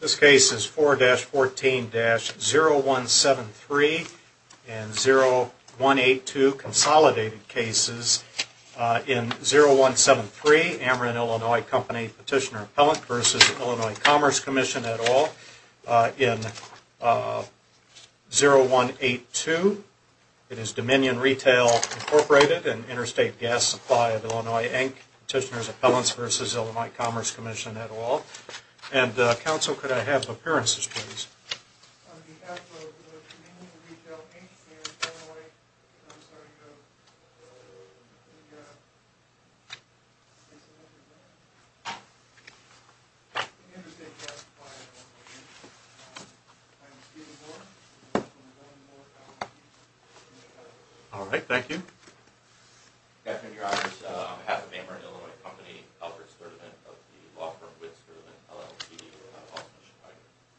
This case is 4-14-0173 and 0182 Consolidated Cases. In 0173, Ameren Illinois Company Petitioner Appellant v. Illinois Commerce Commission et al. In 0182, it is Dominion Retail Incorporated and Interstate Gas Supply of Illinois, Inc. Petitioner's Appellants v. Illinois Commerce Commission et al. And Counsel, could I have appearances please? On behalf of Dominion Retail, Inc. and Illinois, I'm sorry to go. Alright, thank you. Good afternoon, your honors. On behalf of Ameren Illinois Company, Albert Sturdivant of the law firm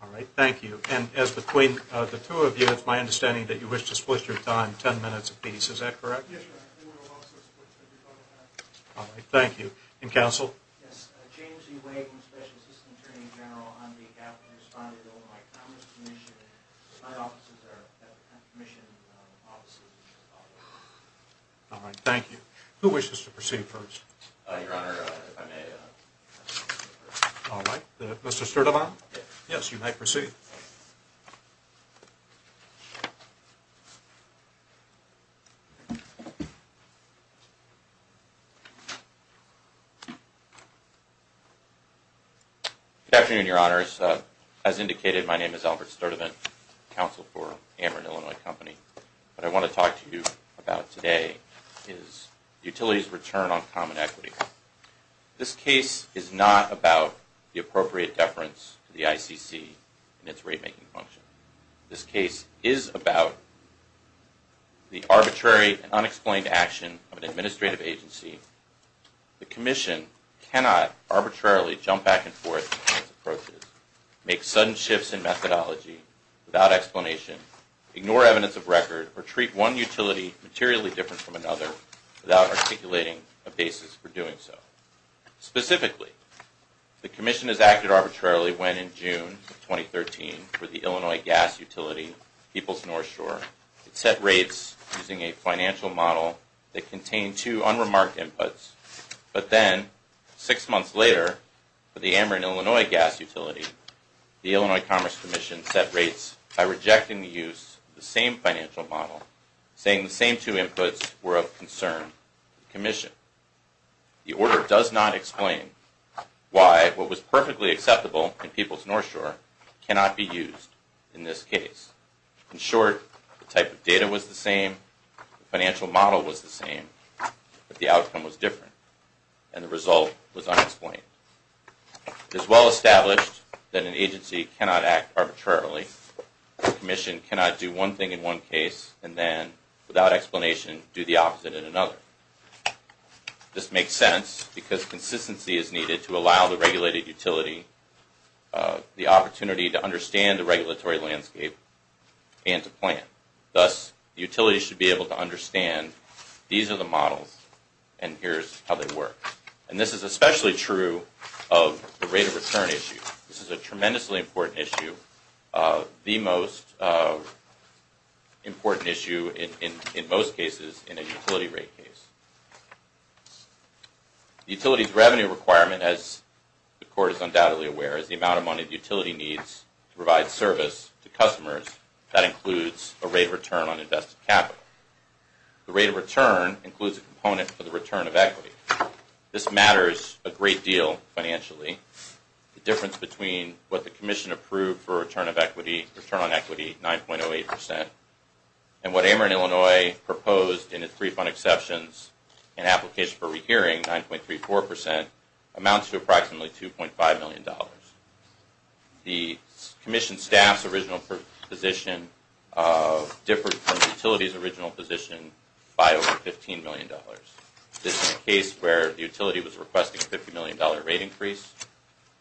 Alright, thank you. And as between the two of you, it's my understanding that you wish to split your time ten minutes apiece, is that correct? Yes, sir. Alright, thank you. And Counsel? Yes, James E. Wagen, Special Assistant Attorney General, on behalf of the Respondent of Illinois Commerce Commission, my offices are at the Commission offices in Chicago. Alright, thank you. Who wishes to proceed first? Your honor, if I may. Alright, Mr. Sturdivant? Yes, you may proceed. Good afternoon, your honors. As indicated, my name is Albert Sturdivant, Counsel for Ameren Illinois Company. What I want to talk to you about today is Utilities Return on Common Equity. This case is not about the appropriate deference to the ICC in its rate making function. This case is about the arbitrary and unexplained action of an administrative agency. The Commission cannot arbitrarily jump back and forth in its approaches, make sudden shifts in methodology without explanation, ignore evidence of record, or treat one utility materially different from another without articulating a basis for doing so. Specifically, the Commission has acted arbitrarily when, in June of 2013, for the Illinois gas utility Peoples North Shore, it set rates using a financial model that contained two unremarked inputs. But then, six months later, for the Ameren Illinois gas utility, the Illinois Commerce Commission set rates by rejecting the use of the same financial model, saying the same two inputs were of concern to the Commission. The order does not explain why what was perfectly acceptable in Peoples North Shore cannot be used in this case. In short, the type of data was the same, the financial model was the same, but the outcome was different, and the result was unexplained. It is well established that an agency cannot act arbitrarily. The Commission cannot do one thing in one case and then, without explanation, do the opposite in another. This makes sense because consistency is needed to allow the regulated utility the opportunity to understand the regulatory landscape and to plan. Thus, the utility should be able to understand these are the models and here's how they work. And this is especially true of the rate of return issue. This is a tremendously important issue, the most important issue in most cases in a utility rate case. The utility's revenue requirement, as the Court is undoubtedly aware, is the amount of money the utility needs to provide service to customers. That includes a rate of return on invested capital. The rate of return includes a component for the return of equity. This matters a great deal financially. The difference between what the Commission approved for return on equity, 9.08%, and what Ameren Illinois proposed in its refund exceptions and application for rehearing, 9.34%, amounts to approximately $2.5 million. The Commission staff's original position differs from the utility's original position by over $15 million. This is a case where the utility was requesting a $50 million rate increase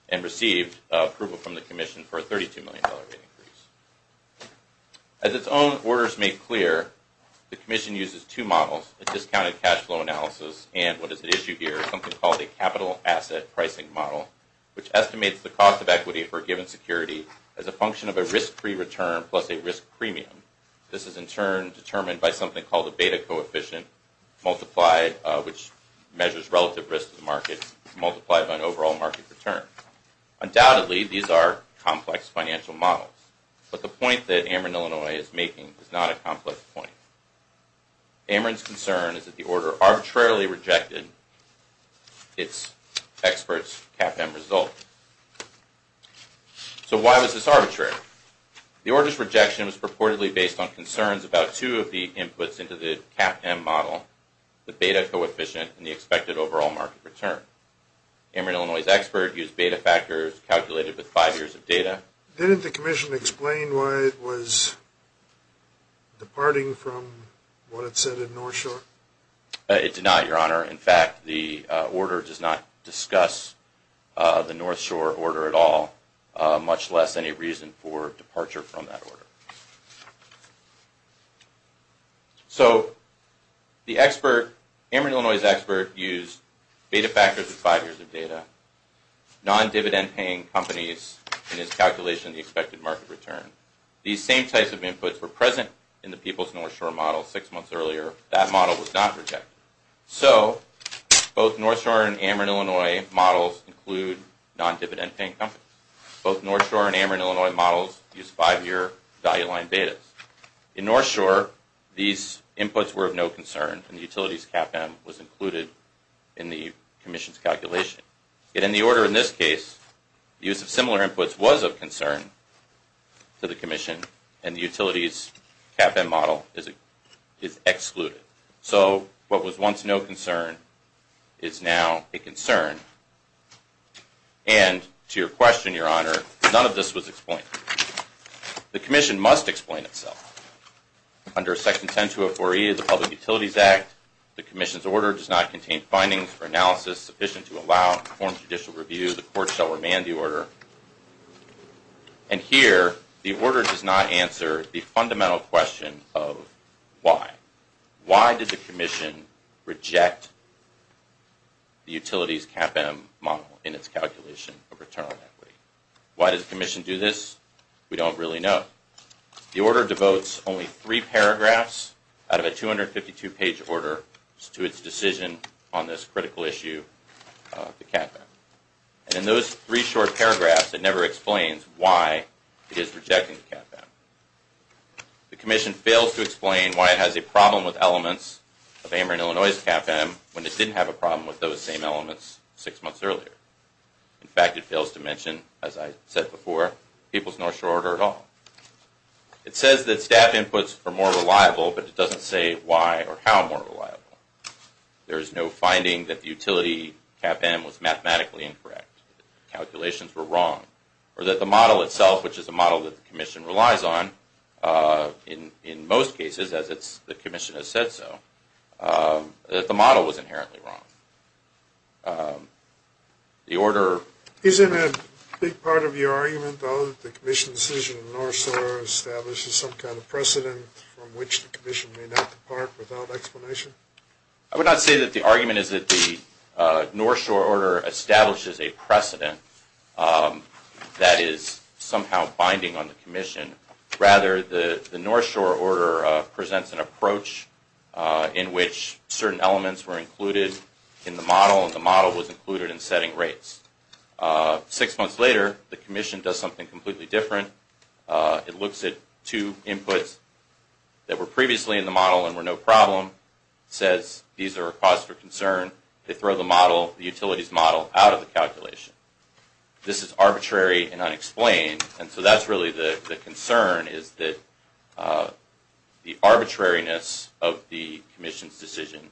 and received approval from the Commission for a $32 million rate increase. As its own orders make clear, the Commission uses two models, a discounted cash flow analysis and what is at issue here, something called a capital asset pricing model, which estimates the cost of equity for a given security as a function of a risk-free return plus a risk premium. This is in turn determined by something called a beta coefficient, which measures relative risk to the market multiplied by an overall market return. Undoubtedly, these are complex financial models, but the point that Ameren Illinois is making is not a complex point. Ameren's concern is that the order arbitrarily rejected its expert's CAPM result. So why was this arbitrary? The order's rejection was purportedly based on concerns about two of the inputs into the CAPM model, the beta coefficient and the expected overall market return. Ameren Illinois' expert used beta factors calculated with five years of data. Didn't the Commission explain why it was departing from what it said in North Shore? It did not, Your Honor. In fact, the order does not discuss the North Shore order at all, much less any reason for departure from that order. So the expert, Ameren Illinois' expert, used beta factors with five years of data, non-dividend-paying companies in his calculation of the expected market return. These same types of inputs were present in the People's North Shore model six months earlier. That model was not rejected. So both North Shore and Ameren Illinois models include non-dividend-paying companies. Both North Shore and Ameren Illinois models use five-year value-aligned betas. In North Shore, these inputs were of no concern, and the utility's CAPM was included in the Commission's calculation. Yet in the order in this case, use of similar inputs was of concern to the Commission, and the utility's CAPM model is excluded. So what was once no concern is now a concern. And to your question, Your Honor, none of this was explained. The Commission must explain itself. Under Section 10204E of the Public Utilities Act, the Commission's order does not contain findings or analysis sufficient to allow informed judicial review. The Court shall remand the order. And here, the order does not answer the fundamental question of why. Why did the Commission reject the utility's CAPM model in its calculation of return on equity? Why does the Commission do this? We don't really know. The order devotes only three paragraphs out of a 252-page order to its decision on this critical issue of the CAPM. And in those three short paragraphs, it never explains why it is rejecting the CAPM. The Commission fails to explain why it has a problem with elements of Ameren Illinois' CAPM when it didn't have a problem with those same elements six months earlier. In fact, it fails to mention, as I said before, people's North Shore order at all. It says that staff inputs are more reliable, but it doesn't say why or how more reliable. There is no finding that the utility CAPM was mathematically incorrect, that the calculations were wrong, or that the model itself, which is a model that the Commission relies on, in most cases, as the Commission has said so, that the model was inherently wrong. The order... Isn't a big part of your argument, though, that the Commission's decision in the North Shore establishes some kind of precedent from which the Commission may not depart without explanation? I would not say that the argument is that the North Shore order establishes a precedent that is somehow binding on the Commission. Rather, the North Shore order presents an approach in which certain elements were included in the model, and the model was included in setting rates. Six months later, the Commission does something completely different. It looks at two inputs that were previously in the model and were no problem, says these are a cause for concern. They throw the model, the utilities model, out of the calculation. This is arbitrary and unexplained, and so that's really the concern, is that the arbitrariness of the Commission's decision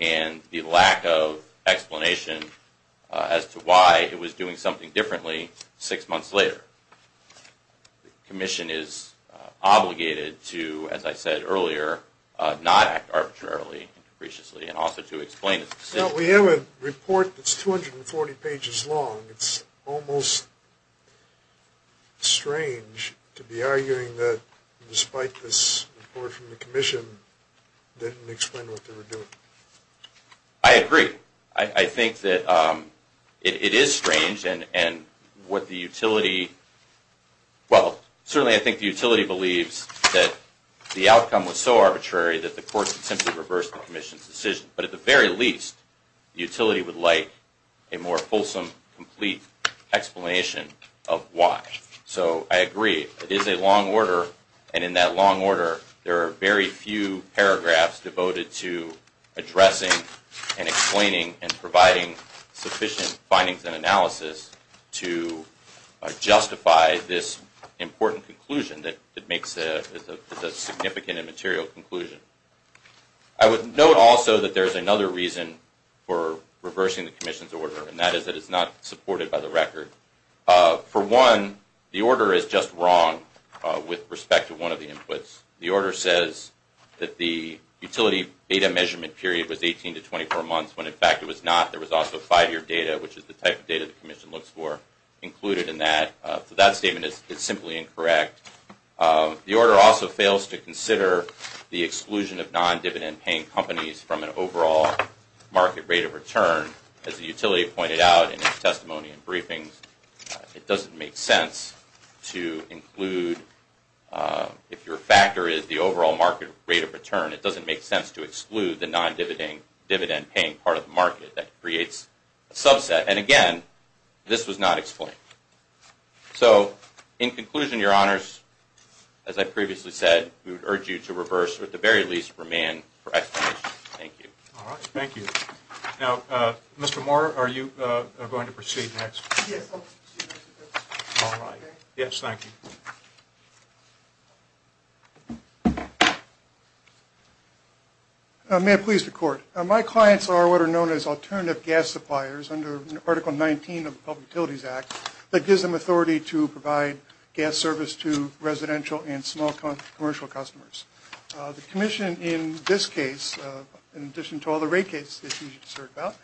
and the lack of explanation as to why it was doing something differently six months later. The Commission is obligated to, as I said earlier, not act arbitrarily and capriciously, and also to explain its decision. We have a report that's 240 pages long. It's almost strange to be arguing that, despite this report from the Commission, they didn't explain what they were doing. I agree. I think that it is strange, and what the utility – well, certainly I think the utility believes that the outcome was so arbitrary that the court could simply reverse the Commission's decision. But at the very least, the utility would like a more fulsome, complete explanation of why. So I agree. It is a long order, and in that long order, there are very few paragraphs devoted to addressing and explaining and providing sufficient findings and analysis to justify this important conclusion that makes a significant and material conclusion. I would note also that there's another reason for reversing the Commission's order, and that is that it's not supported by the record. For one, the order is just wrong with respect to one of the inputs. The order says that the utility data measurement period was 18 to 24 months, when in fact it was not. There was also five-year data, which is the type of data the Commission looks for, included in that. So that statement is simply incorrect. The order also fails to consider the exclusion of non-dividend-paying companies from an overall market rate of return. As the utility pointed out in its testimony and briefings, it doesn't make sense to include – if your factor is the overall market rate of return, it doesn't make sense to exclude the non-dividend-paying part of the market. That creates a subset. And again, this was not explained. So in conclusion, Your Honors, as I previously said, we would urge you to reverse, or at the very least, remand for explanation. Thank you. Thank you. Now, Mr. Moore, are you going to proceed next? Yes, I'll proceed next. Yes, thank you. May it please the Court. My clients are what are known as alternative gas suppliers under Article 19 of the Public Utilities Act that gives them authority to provide gas service to residential and small commercial customers. The Commission in this case, in addition to all the rate cases that you just heard about,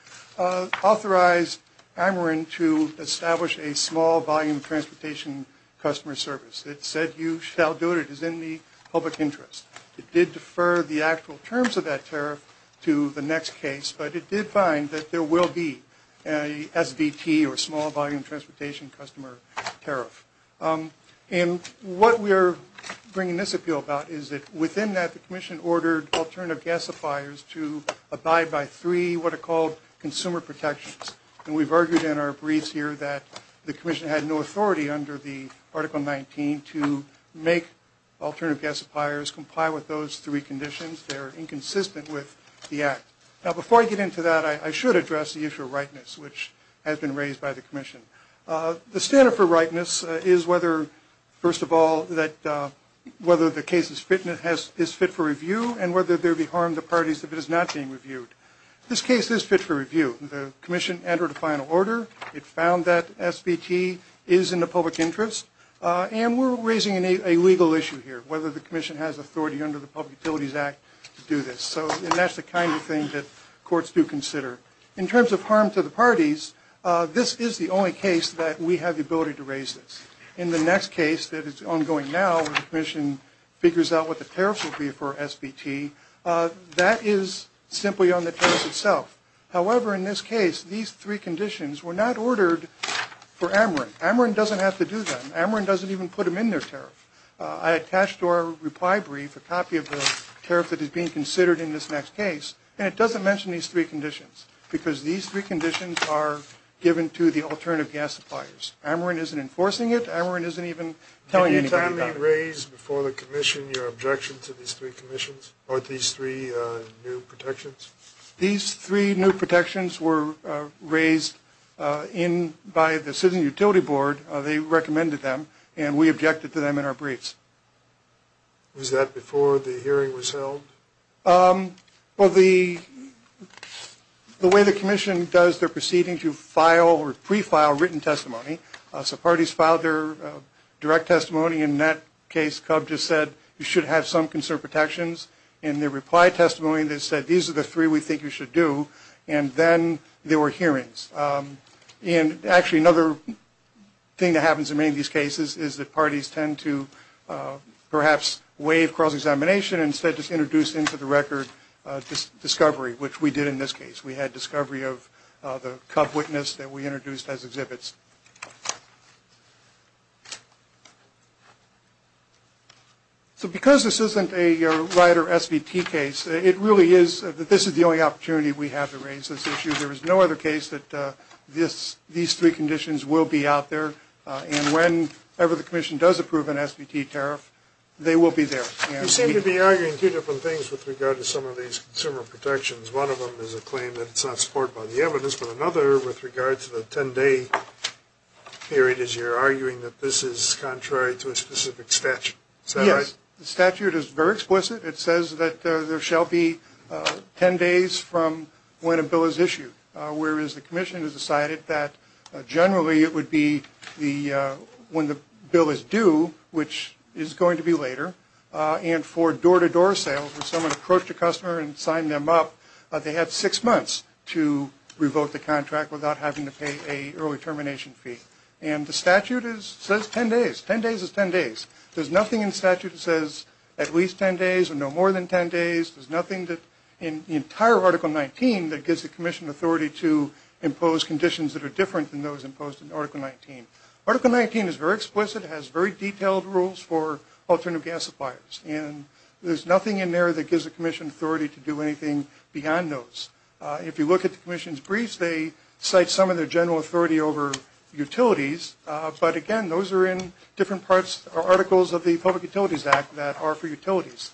authorized Ameren to establish a small-volume transportation customer service. It said you shall do it. It is in the public interest. It did defer the actual terms of that tariff to the next case, but it did find that there will be a SBT, or small-volume transportation customer tariff. And what we are bringing this appeal about is that within that, the Commission ordered alternative gas suppliers to abide by three what are called consumer protections. And we've argued in our briefs here that the Commission had no authority under the Article 19 to make alternative gas suppliers comply with those three conditions. They are inconsistent with the Act. Now, before I get into that, I should address the issue of rightness, which has been raised by the Commission. The standard for rightness is whether, first of all, whether the case is fit for review and whether there be harm to parties if it is not being reviewed. This case is fit for review. The Commission entered a final order. It found that SBT is in the public interest. And we're raising a legal issue here, whether the Commission has authority under the Public Utilities Act to do this. So that's the kind of thing that courts do consider. In terms of harm to the parties, this is the only case that we have the ability to raise this. In the next case that is ongoing now, the Commission figures out what the tariff will be for SBT. That is simply on the tariff itself. However, in this case, these three conditions were not ordered for Ameren. Ameren doesn't have to do them. Ameren doesn't even put them in their tariff. I attached to our reply brief a copy of the tariff that is being considered in this next case, and it doesn't mention these three conditions because these three conditions are given to the alternative gas suppliers. Ameren isn't enforcing it. Ameren isn't even telling anybody about it. Did you finally raise before the Commission your objection to these three commissions or these three new protections? These three new protections were raised by the Citizen Utility Board. They recommended them, and we objected to them in our briefs. Was that before the hearing was held? Well, the way the Commission does their proceeding to file or pre-file written testimony, so parties filed their direct testimony. In that case, CUB just said you should have some conserved protections. In their reply testimony, they said these are the three we think you should do, and then there were hearings. Actually, another thing that happens in many of these cases is that parties tend to perhaps waive cross-examination and instead just introduce into the record discovery, which we did in this case. We had discovery of the CUB witness that we introduced as exhibits. So because this isn't a rider SBT case, it really is that this is the only opportunity we have to raise this issue. There is no other case that these three conditions will be out there, and whenever the Commission does approve an SBT tariff, they will be there. You seem to be arguing two different things with regard to some of these consumer protections. One of them is a claim that it's not supported by the evidence, but another with regard to the 10-day period is you're arguing that this is contrary to a specific statute. Is that right? Yes. The statute is very explicit. It says that there shall be 10 days from when a bill is issued, whereas the Commission has decided that generally it would be when the bill is due, which is going to be later, and for door-to-door sales where someone approached a customer and signed them up, they have six months to revoke the contract without having to pay an early termination fee. And the statute says 10 days. Ten days is 10 days. There's nothing in the statute that says at least 10 days or no more than 10 days. There's nothing in the entire Article 19 that gives the Commission authority to impose conditions that are different than those imposed in Article 19. Article 19 is very explicit. It has very detailed rules for alternative gas suppliers, and there's nothing in there that gives the Commission authority to do anything beyond those. If you look at the Commission's briefs, they cite some of their general authority over utilities, but, again, those are in different parts or articles of the Public Utilities Act that are for utilities.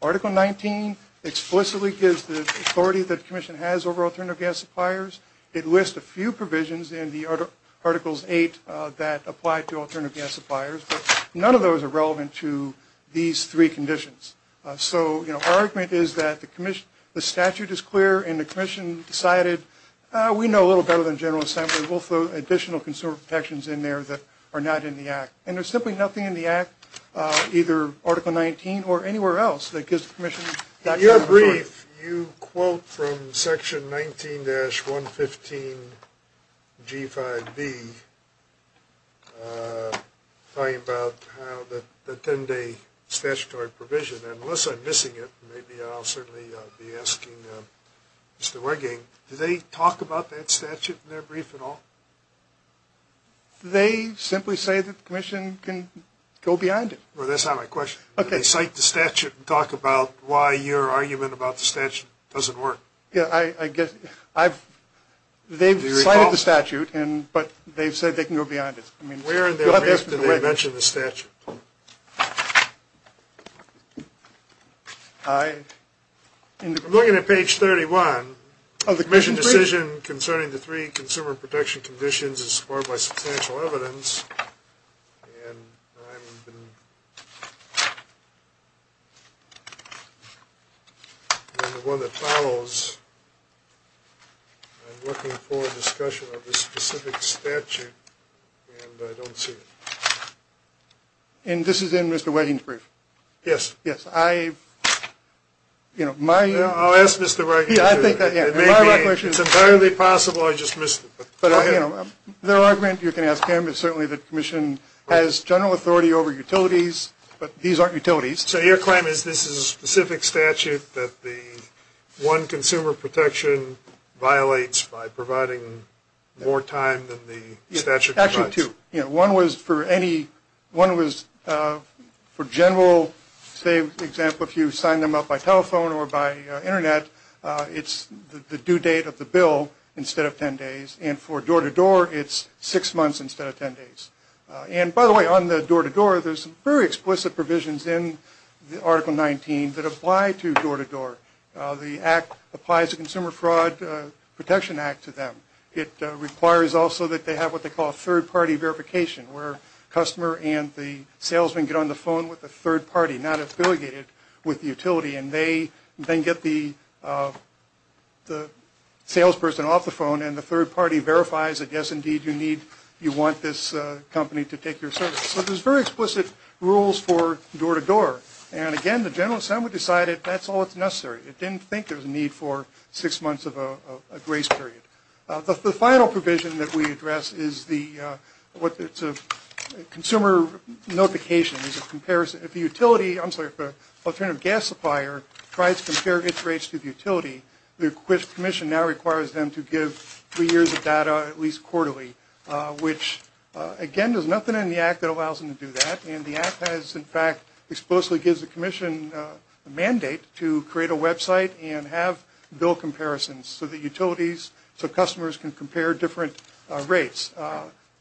Article 19 explicitly gives the authority that the Commission has over alternative gas suppliers. It lists a few provisions in the Articles 8 that apply to alternative gas suppliers, but none of those are relevant to these three conditions. So, you know, our argument is that the statute is clear and the Commission decided we know a little better than General Assembly. We'll throw additional consumer protections in there that are not in the Act. And there's simply nothing in the Act, either Article 19 or anywhere else, that gives the Commission that general authority. In your brief, you quote from Section 19-115G5B, talking about the 10-day statutory provision, and unless I'm missing it, maybe I'll certainly be asking Mr. Weigang, do they talk about that statute in their brief at all? They simply say that the Commission can go beyond it. Well, that's not my question. They cite the statute and talk about why your argument about the statute doesn't work. Yeah, I get it. They've cited the statute, but they've said they can go beyond it. Where in their brief do they mention the statute? Looking at page 31, the Commission decision concerning the three consumer protection conditions is supported by substantial evidence, and I'm the one that follows. I'm looking for a discussion of the specific statute, and I don't see it. And this is in Mr. Weigang's brief? Yes. I'll ask Mr. Weigang. It's entirely possible I just missed it, but go ahead. Their argument, you can ask him, is certainly that the Commission has general authority over utilities, but these aren't utilities. So your claim is this is a specific statute that the one consumer protection violates by providing more time than the statute provides? Actually, two. One was for general, say, for example, if you sign them up by telephone or by Internet, it's the due date of the bill instead of 10 days, and for door-to-door, it's six months instead of 10 days. And, by the way, on the door-to-door, there's very explicit provisions in Article 19 that apply to door-to-door. The Act applies the Consumer Fraud Protection Act to them. It requires also that they have what they call a third-party verification, where a customer and the salesman get on the phone with a third party, not affiliated with the utility, and they then get the salesperson off the phone, and the third party verifies that, yes, indeed, you want this company to take your service. So there's very explicit rules for door-to-door, and, again, the General Assembly decided that's all that's necessary. It didn't think there was a need for six months of a grace period. The final provision that we address is the Consumer Notification. If the utility, I'm sorry, if an alternative gas supplier tries to compare its rates to the utility, the Commission now requires them to give three years of data, at least quarterly, which, again, there's nothing in the Act that allows them to do that, and the Act has, in fact, explicitly gives the Commission a mandate to create a website and have bill comparisons so that utilities, so customers can compare different rates.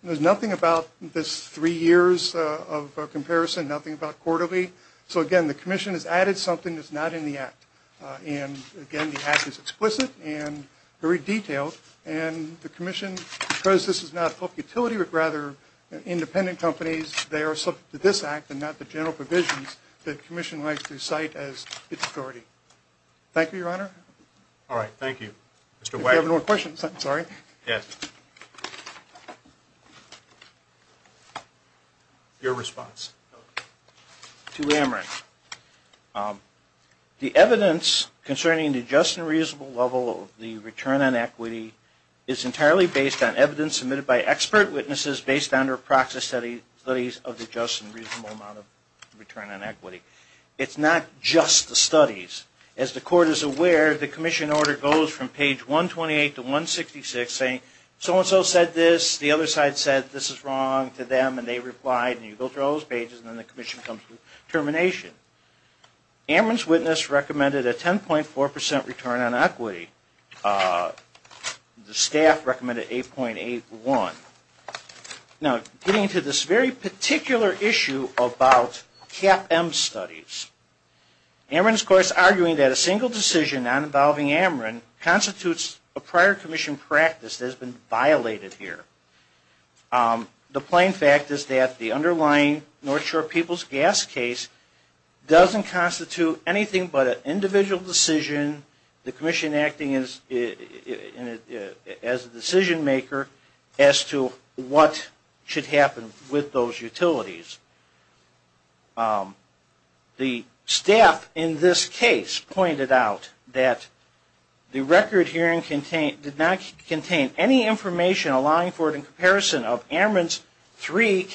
There's nothing about this three years of comparison, nothing about quarterly. So, again, the Commission has added something that's not in the Act, and, again, the Act is explicit and very detailed, and the Commission, because this is not a utility but rather independent companies, they are subject to this Act and not the general provisions that the Commission likes to cite as its authority. Thank you, Your Honor. All right, thank you. Mr. White. If you have no more questions, I'm sorry. Yes. Your response. To Amrit. The evidence concerning the just and reasonable level of the return on equity is entirely based on evidence submitted by expert witnesses based on their process studies of the just and reasonable amount of return on equity. It's not just the studies. As the Court is aware, the Commission order goes from page 128 to 166 saying, so-and-so said this, the other side said this is wrong to them, and they replied, and you go through all those pages, and then the Commission comes to termination. Amrit's witness recommended a 10.4 percent return on equity. The staff recommended 8.81. Now, getting to this very particular issue about CAPM studies. Amrit is, of course, arguing that a single decision not involving Amrit constitutes a prior Commission practice that has been violated here. The plain fact is that the underlying North Shore People's Gas case doesn't constitute anything but an individual decision. The Commission acting as a decision maker as to what should happen with those utilities. The staff in this case pointed out that the record hearing did not contain any information allowing for it in comparison of Of course, the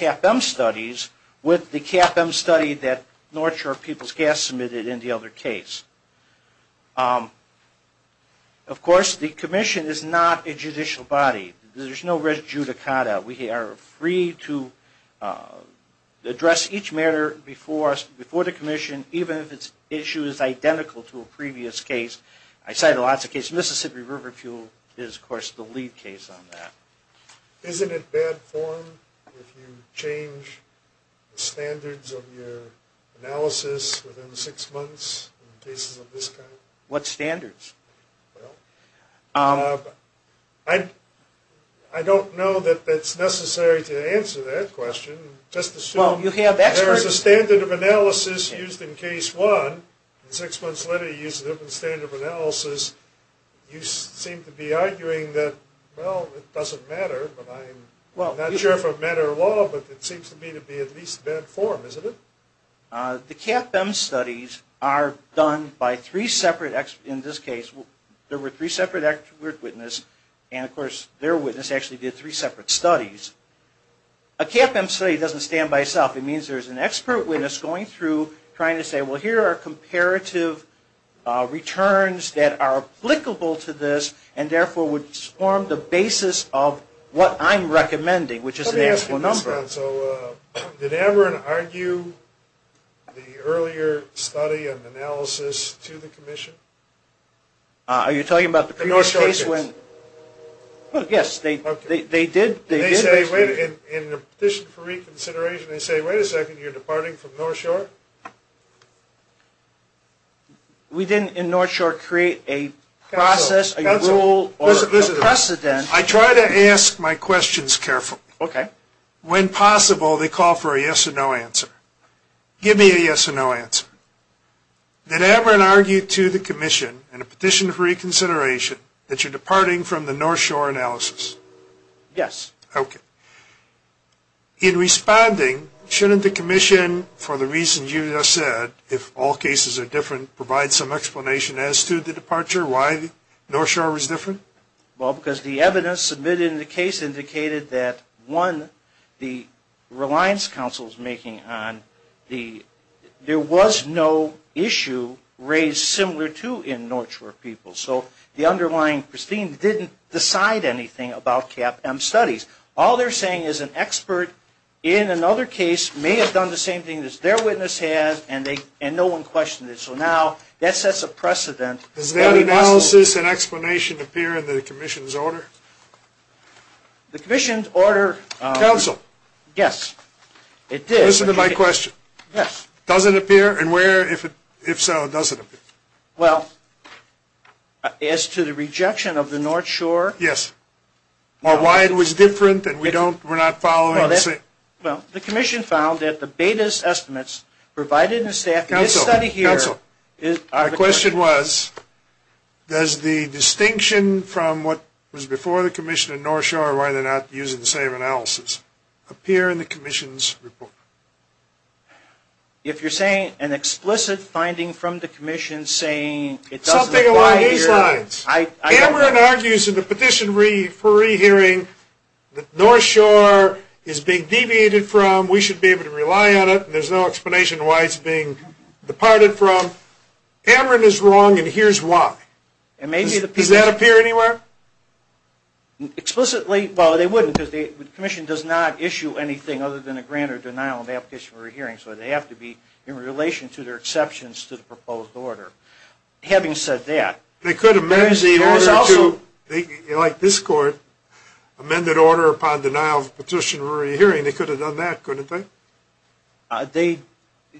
Commission is not a judicial body. There's no res judicata. We are free to address each matter before the Commission, even if its issue is identical to a previous case. I cited lots of cases. Mississippi River Fuel is, of course, the lead case on that. Isn't it bad form if you change the standards of your analysis within six months in cases of this kind? What standards? I don't know that that's necessary to answer that question. Just assume there's a standard of analysis used in case one, and six months later you use a different standard of analysis. You seem to be arguing that, well, it doesn't matter. I'm not sure if it matters at all, but it seems to me to be at least bad form, isn't it? The CAPM studies are done by three separate experts. In this case, there were three separate expert witnesses, and of course their witness actually did three separate studies. A CAPM study doesn't stand by itself. It means there's an expert witness going through, trying to say, well, here are comparative returns that are applicable to this, and therefore would form the basis of what I'm recommending, which is an actual number. Let me ask you this, John. So did Aberin argue the earlier study and analysis to the Commission? Are you talking about the previous case? The North Shore case. Yes, they did. In the petition for reconsideration, they say, wait a second, you're departing from North Shore? We didn't in North Shore create a process, a rule, or a precedent. I try to ask my questions carefully. Okay. When possible, they call for a yes or no answer. Give me a yes or no answer. Did Aberin argue to the Commission in a petition for reconsideration that you're departing from the North Shore analysis? Yes. Okay. In responding, shouldn't the Commission, for the reasons you just said, if all cases are different, provide some explanation as to the departure, why North Shore was different? Well, because the evidence submitted in the case indicated that, one, the Reliance Council's making on the, there was no issue raised similar to in North Shore people. So the underlying pristine didn't decide anything about CAPM studies. All they're saying is an expert in another case may have done the same thing as their witness has, and no one questioned it. So now that sets a precedent. Does that analysis and explanation appear in the Commission's order? The Commission's order. Counsel. Yes, it did. Listen to my question. Yes. Does it appear? And where, if so, does it appear? Well, as to the rejection of the North Shore. Yes. Or why it was different, and we don't, we're not following the same. Well, the Commission found that the betas estimates provided in the staff in this study here. Counsel. Counsel. My question was, does the distinction from what was before the Commission in North Shore, why they're not using the same analysis, appear in the Commission's report? If you're saying an explicit finding from the Commission saying it doesn't apply here. Something along these lines. I don't. Amron argues in the petition for rehearing that North Shore is being deviated from. We should be able to rely on it, and there's no explanation why it's being departed from. Amron is wrong, and here's why. And maybe the people. Does that appear anywhere? Explicitly, well, they wouldn't. The Commission does not issue anything other than a grant or denial of application for a hearing, so they have to be in relation to their exceptions to the proposed order. Having said that. They could amend the order to, like this court, amended order upon denial of petition for a hearing. They could have done that, couldn't they? They,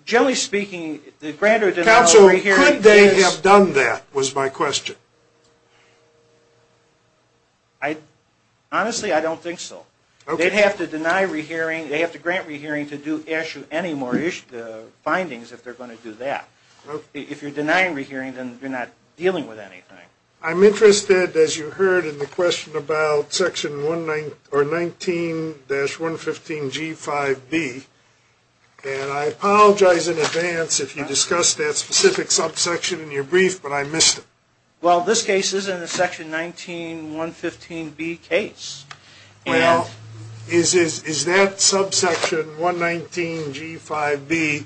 generally speaking, the grant or denial of a hearing. Counsel, could they have done that, was my question. Honestly, I don't think so. They'd have to deny rehearing. They'd have to grant rehearing to do issue any more findings if they're going to do that. If you're denying rehearing, then you're not dealing with anything. I'm interested, as you heard in the question about section 19-115G5B, and I apologize in advance if you discussed that specific subsection in your brief, but I missed it. Well, this case isn't a section 19-115B case. Well, is that subsection 119G5B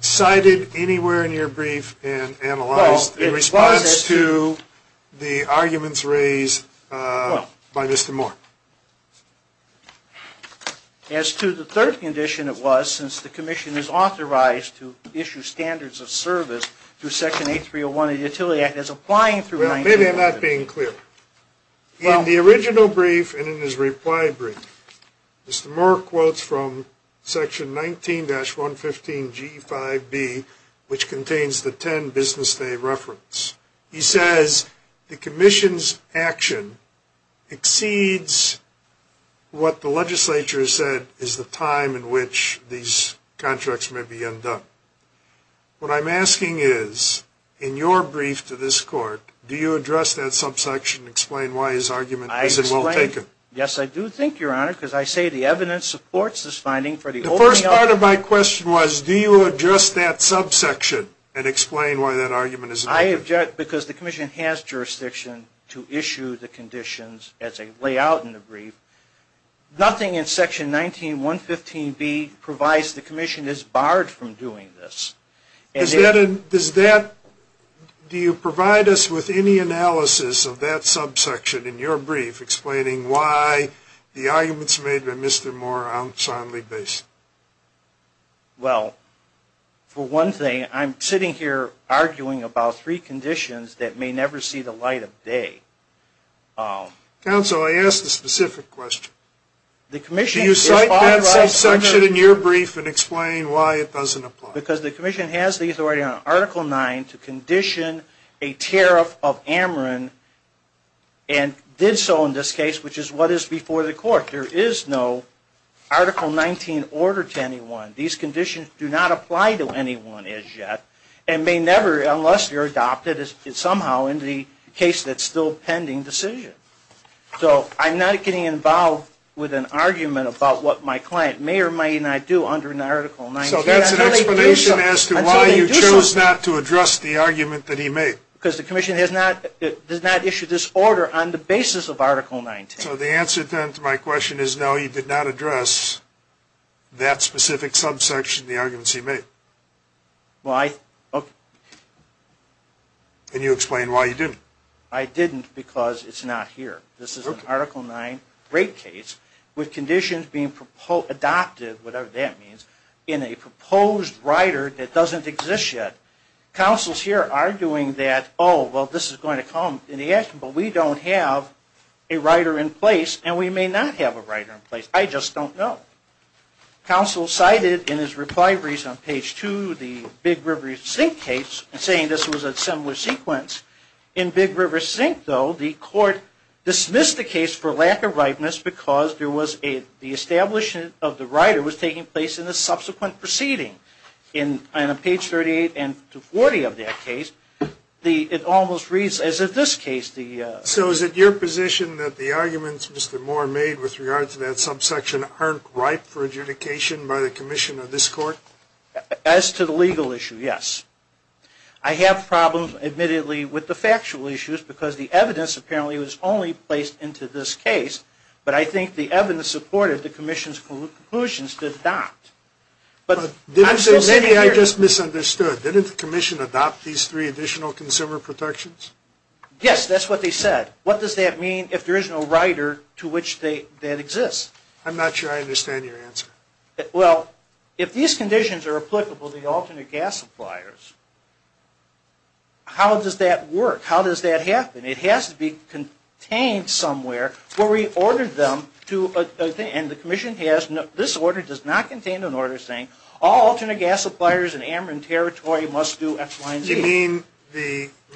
cited anywhere in your brief and analyzed in response to the arguments raised by Mr. Moore? As to the third condition, it was, since the Commission is authorized to issue standards of service through section 8301 of the Utility Act as applying through 19-115. Well, maybe I'm not being clear. In the original brief and in his reply brief, Mr. Moore quotes from section 19-115G5B, which contains the 10 business day reference. He says the Commission's action exceeds what the legislature has said is the time in which these contracts may be undone. What I'm asking is, in your brief to this Court, do you address that subsection and explain why his argument isn't well taken? Yes, I do think, Your Honor, because I say the evidence supports this finding. The first part of my question was, do you address that subsection and explain why that argument isn't well taken? I object because the Commission has jurisdiction to issue the conditions as they lay out in the brief. Nothing in section 19-115B provides the Commission is barred from doing this. Do you provide us with any analysis of that subsection in your brief, explaining why the arguments made by Mr. Moore aren't soundly based? Well, for one thing, I'm sitting here arguing about three conditions that may never see the light of day. Counsel, I asked a specific question. Do you cite that subsection in your brief and explain why it doesn't apply? Because the Commission has the authority on Article 9 to condition a tariff of Ameren and did so in this case, which is what is before the Court. There is no Article 19 order to anyone. These conditions do not apply to anyone as yet and may never, unless they're adopted, is somehow in the case that's still pending decision. So I'm not getting involved with an argument about what my client may or may not do under an Article 19. So that's an explanation as to why you chose not to address the argument that he made. Because the Commission does not issue this order on the basis of Article 19. So the answer then to my question is no, you did not address that specific subsection in the arguments he made. Can you explain why you didn't? I didn't because it's not here. This is an Article 9 rape case with conditions being adopted, whatever that means, in a proposed rider that doesn't exist yet. Counsel's here arguing that, oh, well, this is going to come in the action, but we don't have a rider in place and we may not have a rider in place. I just don't know. Counsel cited in his reply on Page 2 the Big River Sink case, saying this was a similar sequence. In Big River Sink, though, the court dismissed the case for lack of ripeness because the establishment of the rider was taking place in the subsequent proceeding. On Page 38 and to 40 of that case, it almost reads as in this case. So is it your position that the arguments Mr. Moore made with regard to that subsection aren't ripe for adjudication by the commission of this court? As to the legal issue, yes. I have problems, admittedly, with the factual issues because the evidence apparently was only placed into this case, but I think the evidence supported the commission's conclusions to adopt. I'm still sitting here. I just misunderstood. Didn't the commission adopt these three additional consumer protections? Yes, that's what they said. What does that mean if there is no rider to which that exists? I'm not sure I understand your answer. Well, if these conditions are applicable to the alternate gas suppliers, how does that work? How does that happen? It has to be contained somewhere where we ordered them to, and the commission has, this order does not contain an order saying all alternate gas suppliers in Ameren territory must do FY&E. Do you mean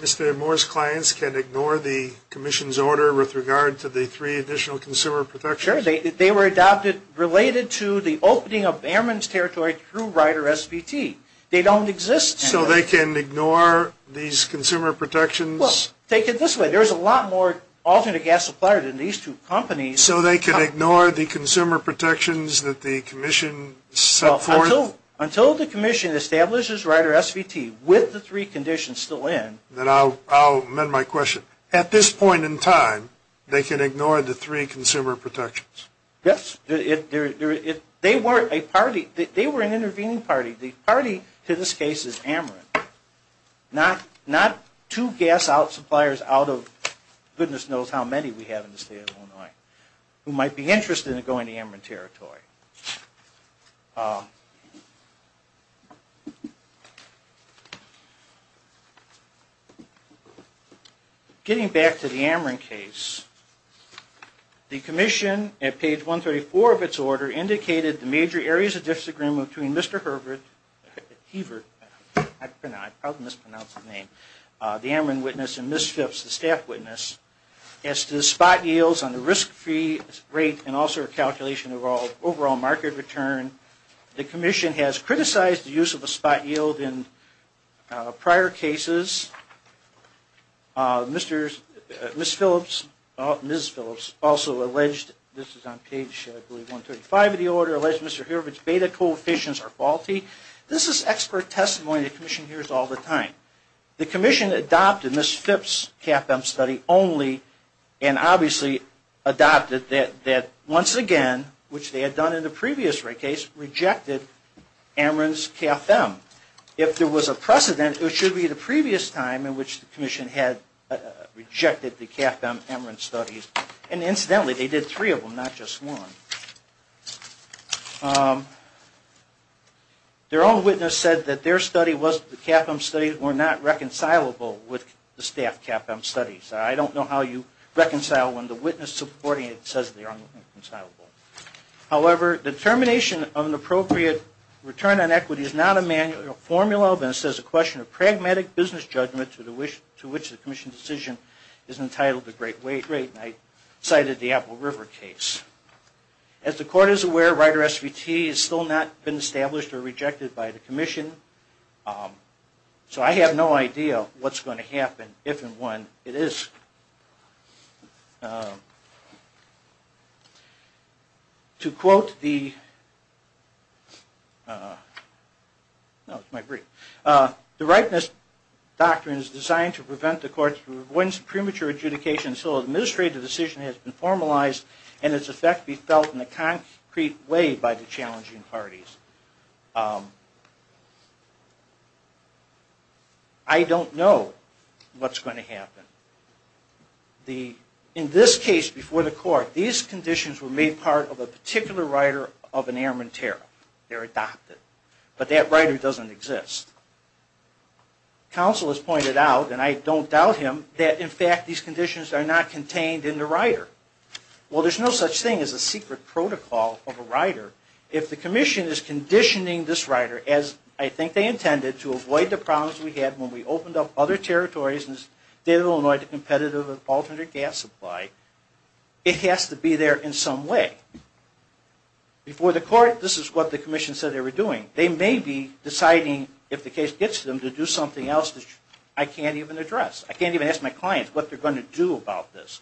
Mr. Moore's clients can ignore the commission's order with regard to the three additional consumer protections? Sure, they were adopted related to the opening of Ameren's territory through rider SVT. They don't exist anymore. So they can ignore these consumer protections? Well, take it this way. There is a lot more alternate gas supplier than these two companies. So they can ignore the consumer protections that the commission set forth? Until the commission establishes rider SVT with the three conditions still in. Then I'll amend my question. At this point in time, they can ignore the three consumer protections? Yes. They were an intervening party. The party to this case is Ameren. Not two gas suppliers out of goodness knows how many we have in the state of Illinois who might be interested in going to Ameren territory. Getting back to the Ameren case, the commission at page 134 of its order indicated the major areas of disagreement between Mr. Herbert, I probably mispronounced his name, the Ameren witness and Ms. Phipps, the staff witness, as to the spot yields on the risk-free rate and also a calculation of overall market return. The commission has criticized the use of a spot yield in prior cases. Ms. Phillips also alleged, this is on page 135 of the order, alleged Mr. Herbert's beta coefficients are faulty. This is expert testimony the commission hears all the time. The commission adopted Ms. Phipps' CAFM study only and obviously adopted that once again, which they had done in the previous case, rejected Ameren's CAFM. If there was a precedent, it should be the previous time in which the commission had rejected the CAFM-Ameren studies. Incidentally, they did three of them, not just one. Their own witness said that their CAFM studies were not reconcilable with the staff CAFM studies. I don't know how you reconcile when the witness supporting it says they are not reconcilable. However, the termination of an appropriate return on equity is not a manual formula, but it is a question of pragmatic business judgment to which the commission's decision is entitled to great weight. I cited the Apple River case. As the court is aware, Rider SVT has still not been established or rejected by the commission. So I have no idea what's going to happen if and when it is. To quote the... The Ripeness Doctrine is designed to prevent the courts from avoiding premature adjudication until an administrative decision has been formalized and its effect be felt in a concrete way by the challenging parties. I don't know what's going to happen. In this case before the court, these conditions were made part of a particular rider of an Ameren tariff. They're adopted. But that rider doesn't exist. Counsel has pointed out, and I don't doubt him, that in fact these conditions are not contained in the rider. Well, there's no such thing as a secret protocol of a rider. If the commission is conditioning this rider as I think they intended to avoid the problems we had when we opened up other territories in the state of Illinois to competitive alternate gas supply, it has to be there in some way. Before the court, this is what the commission said they were doing. They may be deciding, if the case gets to them, to do something else that I can't even address. I can't even ask my clients what they're going to do about this.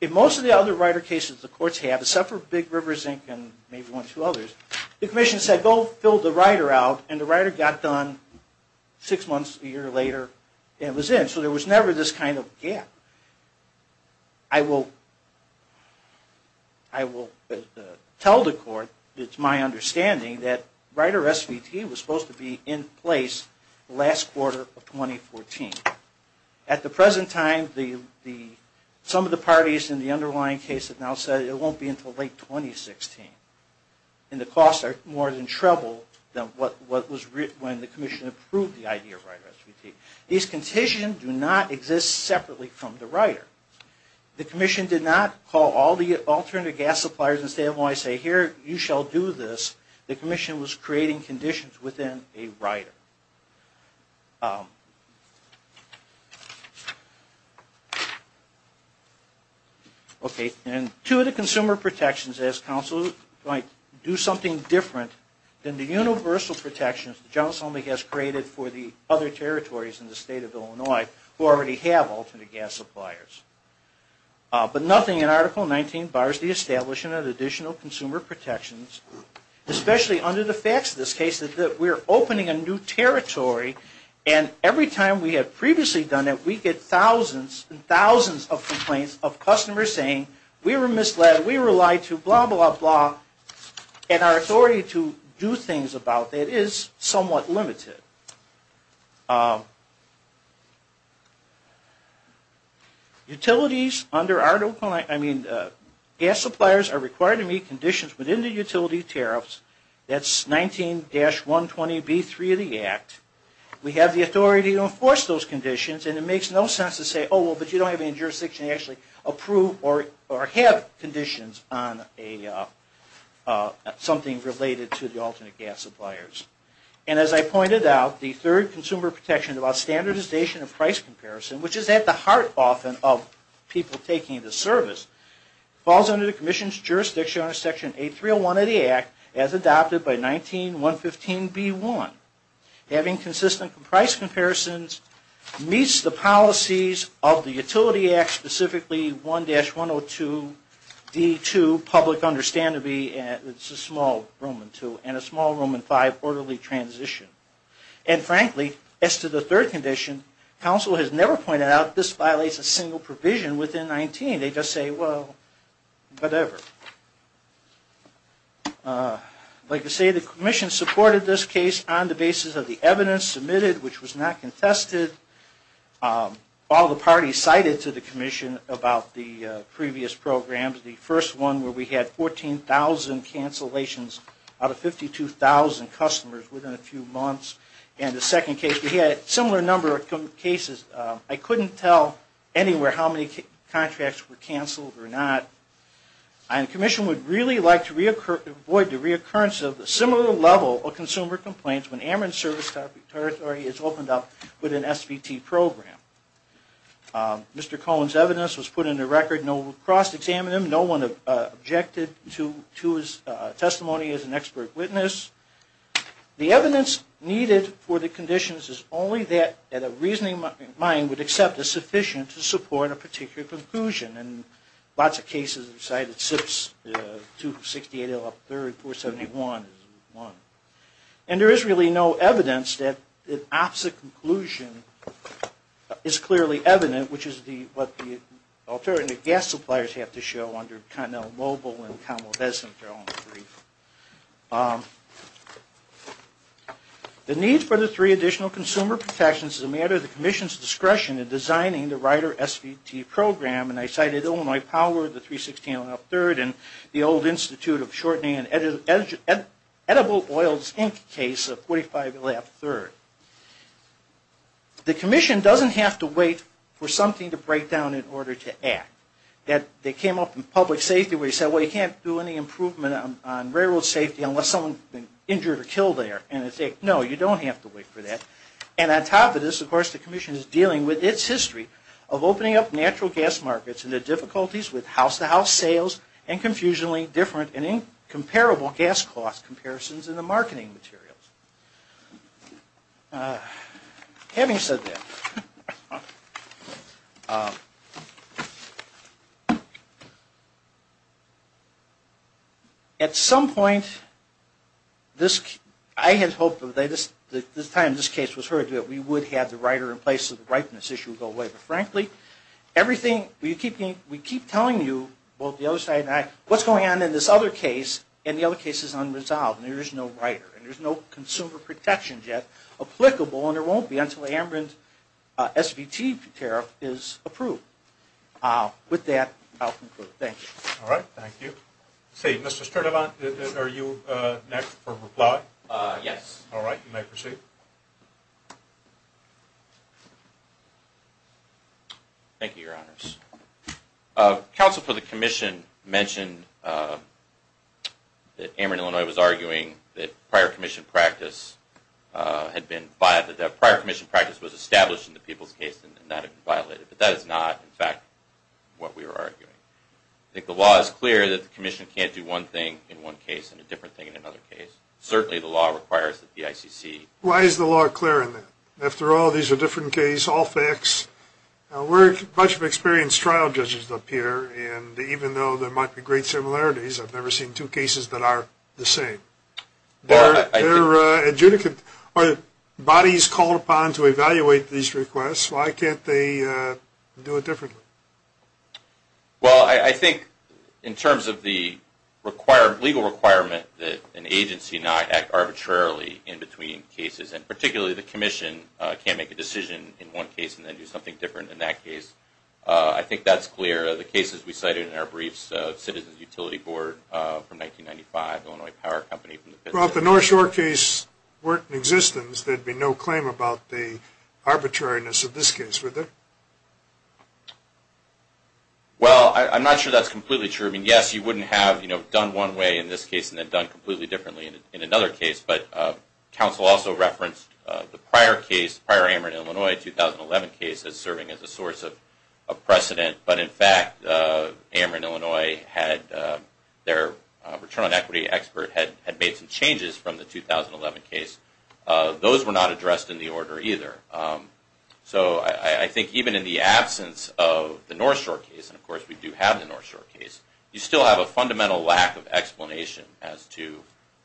In most of the other rider cases the courts have, except for Big River, Zinc, and maybe one or two others, the commission said go fill the rider out, and the rider got done six months, a year later, and it was in. So there was never this kind of gap. I will tell the court, it's my understanding, that rider restitution is not something that was supposed to be in place last quarter of 2014. At the present time, some of the parties in the underlying case have now said it won't be until late 2016, and the costs are more than treble than what was when the commission approved the idea of rider restitution. These conditions do not exist separately from the rider. The commission did not call all the alternate gas suppliers in the state of Illinois and say, here, you shall do this. The commission was creating conditions within a rider. Okay, and two of the consumer protections ask counsel to do something different than the universal protections that John Selma has created for the other territories in the state of Illinois who already have alternate gas suppliers. But nothing in Article 19 bars the establishment of additional consumer protections, especially under the facts of this case that we are opening a new territory, and every time we have previously done it, we get thousands and thousands of complaints of customers saying we were misled, we were lied to, blah, blah, blah, and our authority to do things about that is somewhat limited. Utilities under our, I mean, gas suppliers are required to meet conditions within the utility tariffs. That's 19-120B3 of the Act. We have the authority to enforce those conditions, and it makes no sense to say, oh, well, but you don't have any jurisdiction to actually approve or have conditions on something related to the alternate gas suppliers. And as I pointed out, the third consumer protection about standardization of price comparison, which is at the heart, often, of people taking the service, falls under the commission's jurisdiction under Section 8301 of the Act as adopted by 19-115B1. Having consistent price comparisons meets the policies of the Utility Act, specifically 1-102D2, public understandably, and it's a small room in two, and a small room in five, orderly transition. And frankly, as to the third condition, council has never pointed out this violates a single provision within 19. They just say, well, whatever. Like I say, the commission supported this case on the basis of the evidence submitted, which was not contested. All the parties cited to the commission about the previous programs, the first one where we had 14,000 cancellations out of 52,000 customers within a few months, and the second case, we had a similar number of cases. I couldn't tell anywhere how many contracts were canceled or not. And the commission would really like to avoid the reoccurrence of a similar level of consumer complaints when Amarin Service Territory is opened up with an SVT program. Mr. Cohen's evidence was put in the record. No one cross-examined him. No one objected to his testimony as an expert witness. The evidence needed for the conditions is only that a reasoning mind would accept is sufficient to support a particular conclusion. And lots of cases are cited. 268 up 30, 471 is one. And there is really no evidence that an opposite conclusion is clearly evident, which is what the alternative gas suppliers have to show under Connell-Mobile and Conwell-Hesenthal. The need for the three additional consumer protections is a matter of the commission's discretion in designing the Rider SVT program. And I cited Illinois Power, the 316 on up third, and the old Institute of Shortening and Edible Oils Inc. case of 45 and a half third. The commission doesn't have to wait for something to break down in order to act. They came up in public safety where they said, well, you can't do any improvement on railroad safety unless someone's been injured or killed there. And I said, no, you don't have to wait for that. And on top of this, of course, the commission is dealing with its history of opening up natural gas markets and the difficulties with house-to-house sales and confusionally different and incomparable gas cost comparisons in the marketing materials. Having said that, at some point I had hoped that by the time this case was heard that we would have the Rider in place so the ripeness issue would go away. But frankly, we keep telling you, both the other side and I, what's going on in this other case and the other case is unresolved and there is no Rider and there's no consumer protection yet applicable and there won't be until Amarant SVT tariff is approved. With that, I'll conclude. Thank you. All right. Thank you. Mr. Sturdivant, are you next for reply? Yes. All right. You may proceed. Thank you, Your Honors. Counsel for the commission mentioned that Amarant, Illinois, was arguing that prior commission practice was established in the people's case and that it violated. But that is not, in fact, what we were arguing. I think the law is clear that the commission can't do one thing in one case and a different thing in another case. Certainly, the law requires that the ICC… Why is the law clear in that? After all, these are different cases, all facts. We're a bunch of experienced trial judges up here, and even though there might be great similarities, I've never seen two cases that are the same. They're adjudicant bodies called upon to evaluate these requests. Why can't they do it differently? Well, I think in terms of the legal requirement that an agency not act arbitrarily in between cases, and particularly the commission can't make a decision in one case and then do something different in that case. I think that's clear. The cases we cited in our briefs, Citizens Utility Board from 1995, Illinois Power Company… Well, if the North Shore case weren't in existence, there'd be no claim about the arbitrariness of this case, would there? Well, I'm not sure that's completely true. I mean, yes, you wouldn't have done one way in this case and then done completely differently in another case. But counsel also referenced the prior case, prior Ameren, Illinois, 2011 case as serving as a source of precedent. But, in fact, Ameren, Illinois had their return on equity expert had made some changes from the 2011 case. Those were not addressed in the order either. So I think even in the absence of the North Shore case, and, of course, we do have the North Shore case, you still have a fundamental lack of explanation as to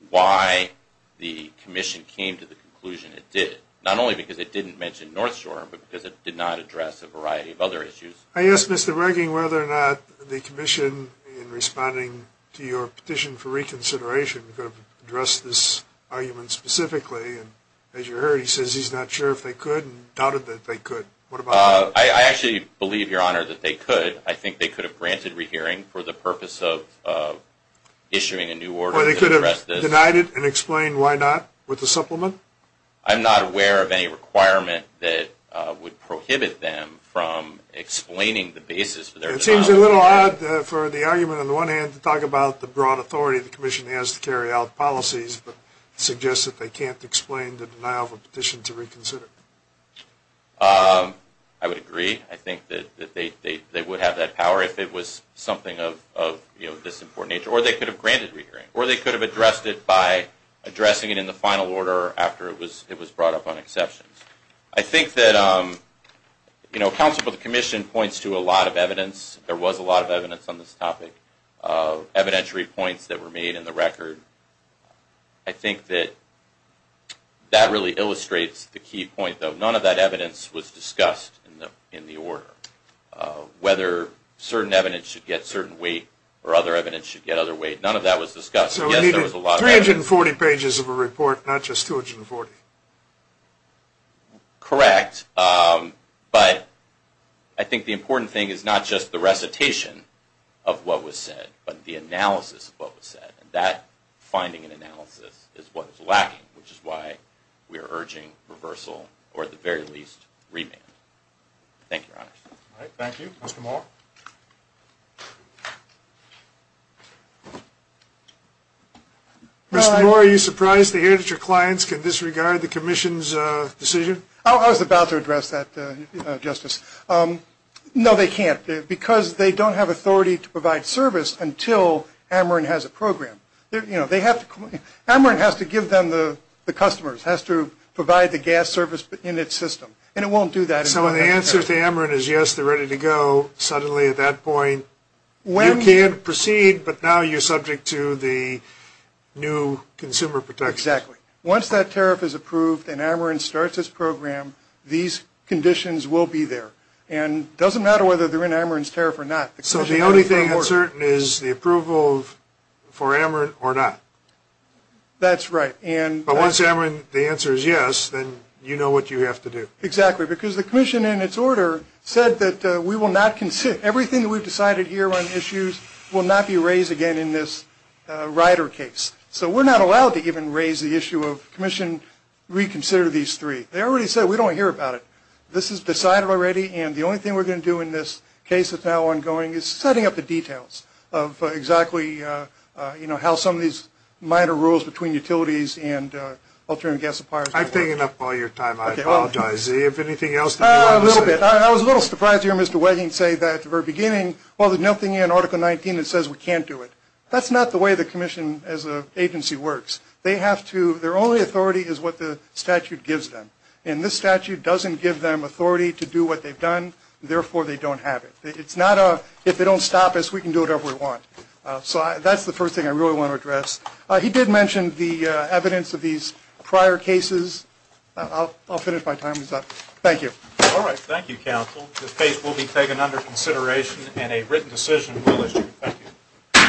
why the commission came to the conclusion it did. Not only because it didn't mention North Shore, but because it did not address a variety of other issues. I asked Mr. Regan whether or not the commission, in responding to your petition for reconsideration, could have addressed this argument specifically. And as you heard, he says he's not sure if they could and doubted that they could. I actually believe, Your Honor, that they could. I think they could have granted rehearing for the purpose of issuing a new order to address this. Or they could have denied it and explained why not with a supplement? I'm not aware of any requirement that would prohibit them from explaining the basis for their denial of a petition. It seems a little odd for the argument on the one hand to talk about the broad authority the commission has to carry out policies, but suggest that they can't explain the denial of a petition to reconsider. I would agree. I think that they would have that power if it was something of this important nature. Or they could have granted rehearing. Or they could have addressed it by addressing it in the final order after it was brought up on exceptions. I think that counsel for the commission points to a lot of evidence. There was a lot of evidence on this topic. Evidentiary points that were made in the record. I think that that really illustrates the key point, though. None of that evidence was discussed in the order. Whether certain evidence should get certain weight or other evidence should get other weight, none of that was discussed. So it needed 340 pages of a report, not just 240? Correct. But I think the important thing is not just the recitation of what was said, but the analysis of what was said. And that finding and analysis is what is lacking, which is why we are urging reversal, or at the very least, remand. Thank you, Your Honor. Thank you. Mr. Moore? Mr. Moore, are you surprised to hear that your clients can disregard the commission's decision? I was about to address that, Justice. No, they can't, because they don't have authority to provide service until Ameren has a program. Ameren has to give them the customers, has to provide the gas service in its system, and it won't do that. So the answer to Ameren is yes, they're ready to go. Suddenly, at that point, you can't proceed, but now you're subject to the new consumer protections. Exactly. Once that tariff is approved and Ameren starts its program, these conditions will be there. And it doesn't matter whether they're in Ameren's tariff or not. So the only thing that's certain is the approval for Ameren or not? That's right. But once Ameren, the answer is yes, then you know what you have to do. Exactly, because the commission, in its order, said that we will not consider, everything that we've decided here on issues will not be raised again in this Rider case. So we're not allowed to even raise the issue of commission reconsider these three. They already said we don't hear about it. This is decided already, and the only thing we're going to do in this case that's now ongoing is setting up the details of exactly, you know, how some of these minor rules between utilities and alternative gas suppliers work. I've taken up all your time. I apologize. Is there anything else that you want to say? A little bit. I was a little surprised to hear Mr. Wedding say that at the very beginning, well, there's nothing in Article 19 that says we can't do it. That's not the way the commission as an agency works. They have to, their only authority is what the statute gives them, and this statute doesn't give them authority to do what they've done, therefore they don't have it. It's not a, if they don't stop us, we can do whatever we want. So that's the first thing I really want to address. He did mention the evidence of these prior cases. I'll finish my time. Thank you. All right. Thank you, counsel. The case will be taken under consideration, and a written decision will issue. Thank you.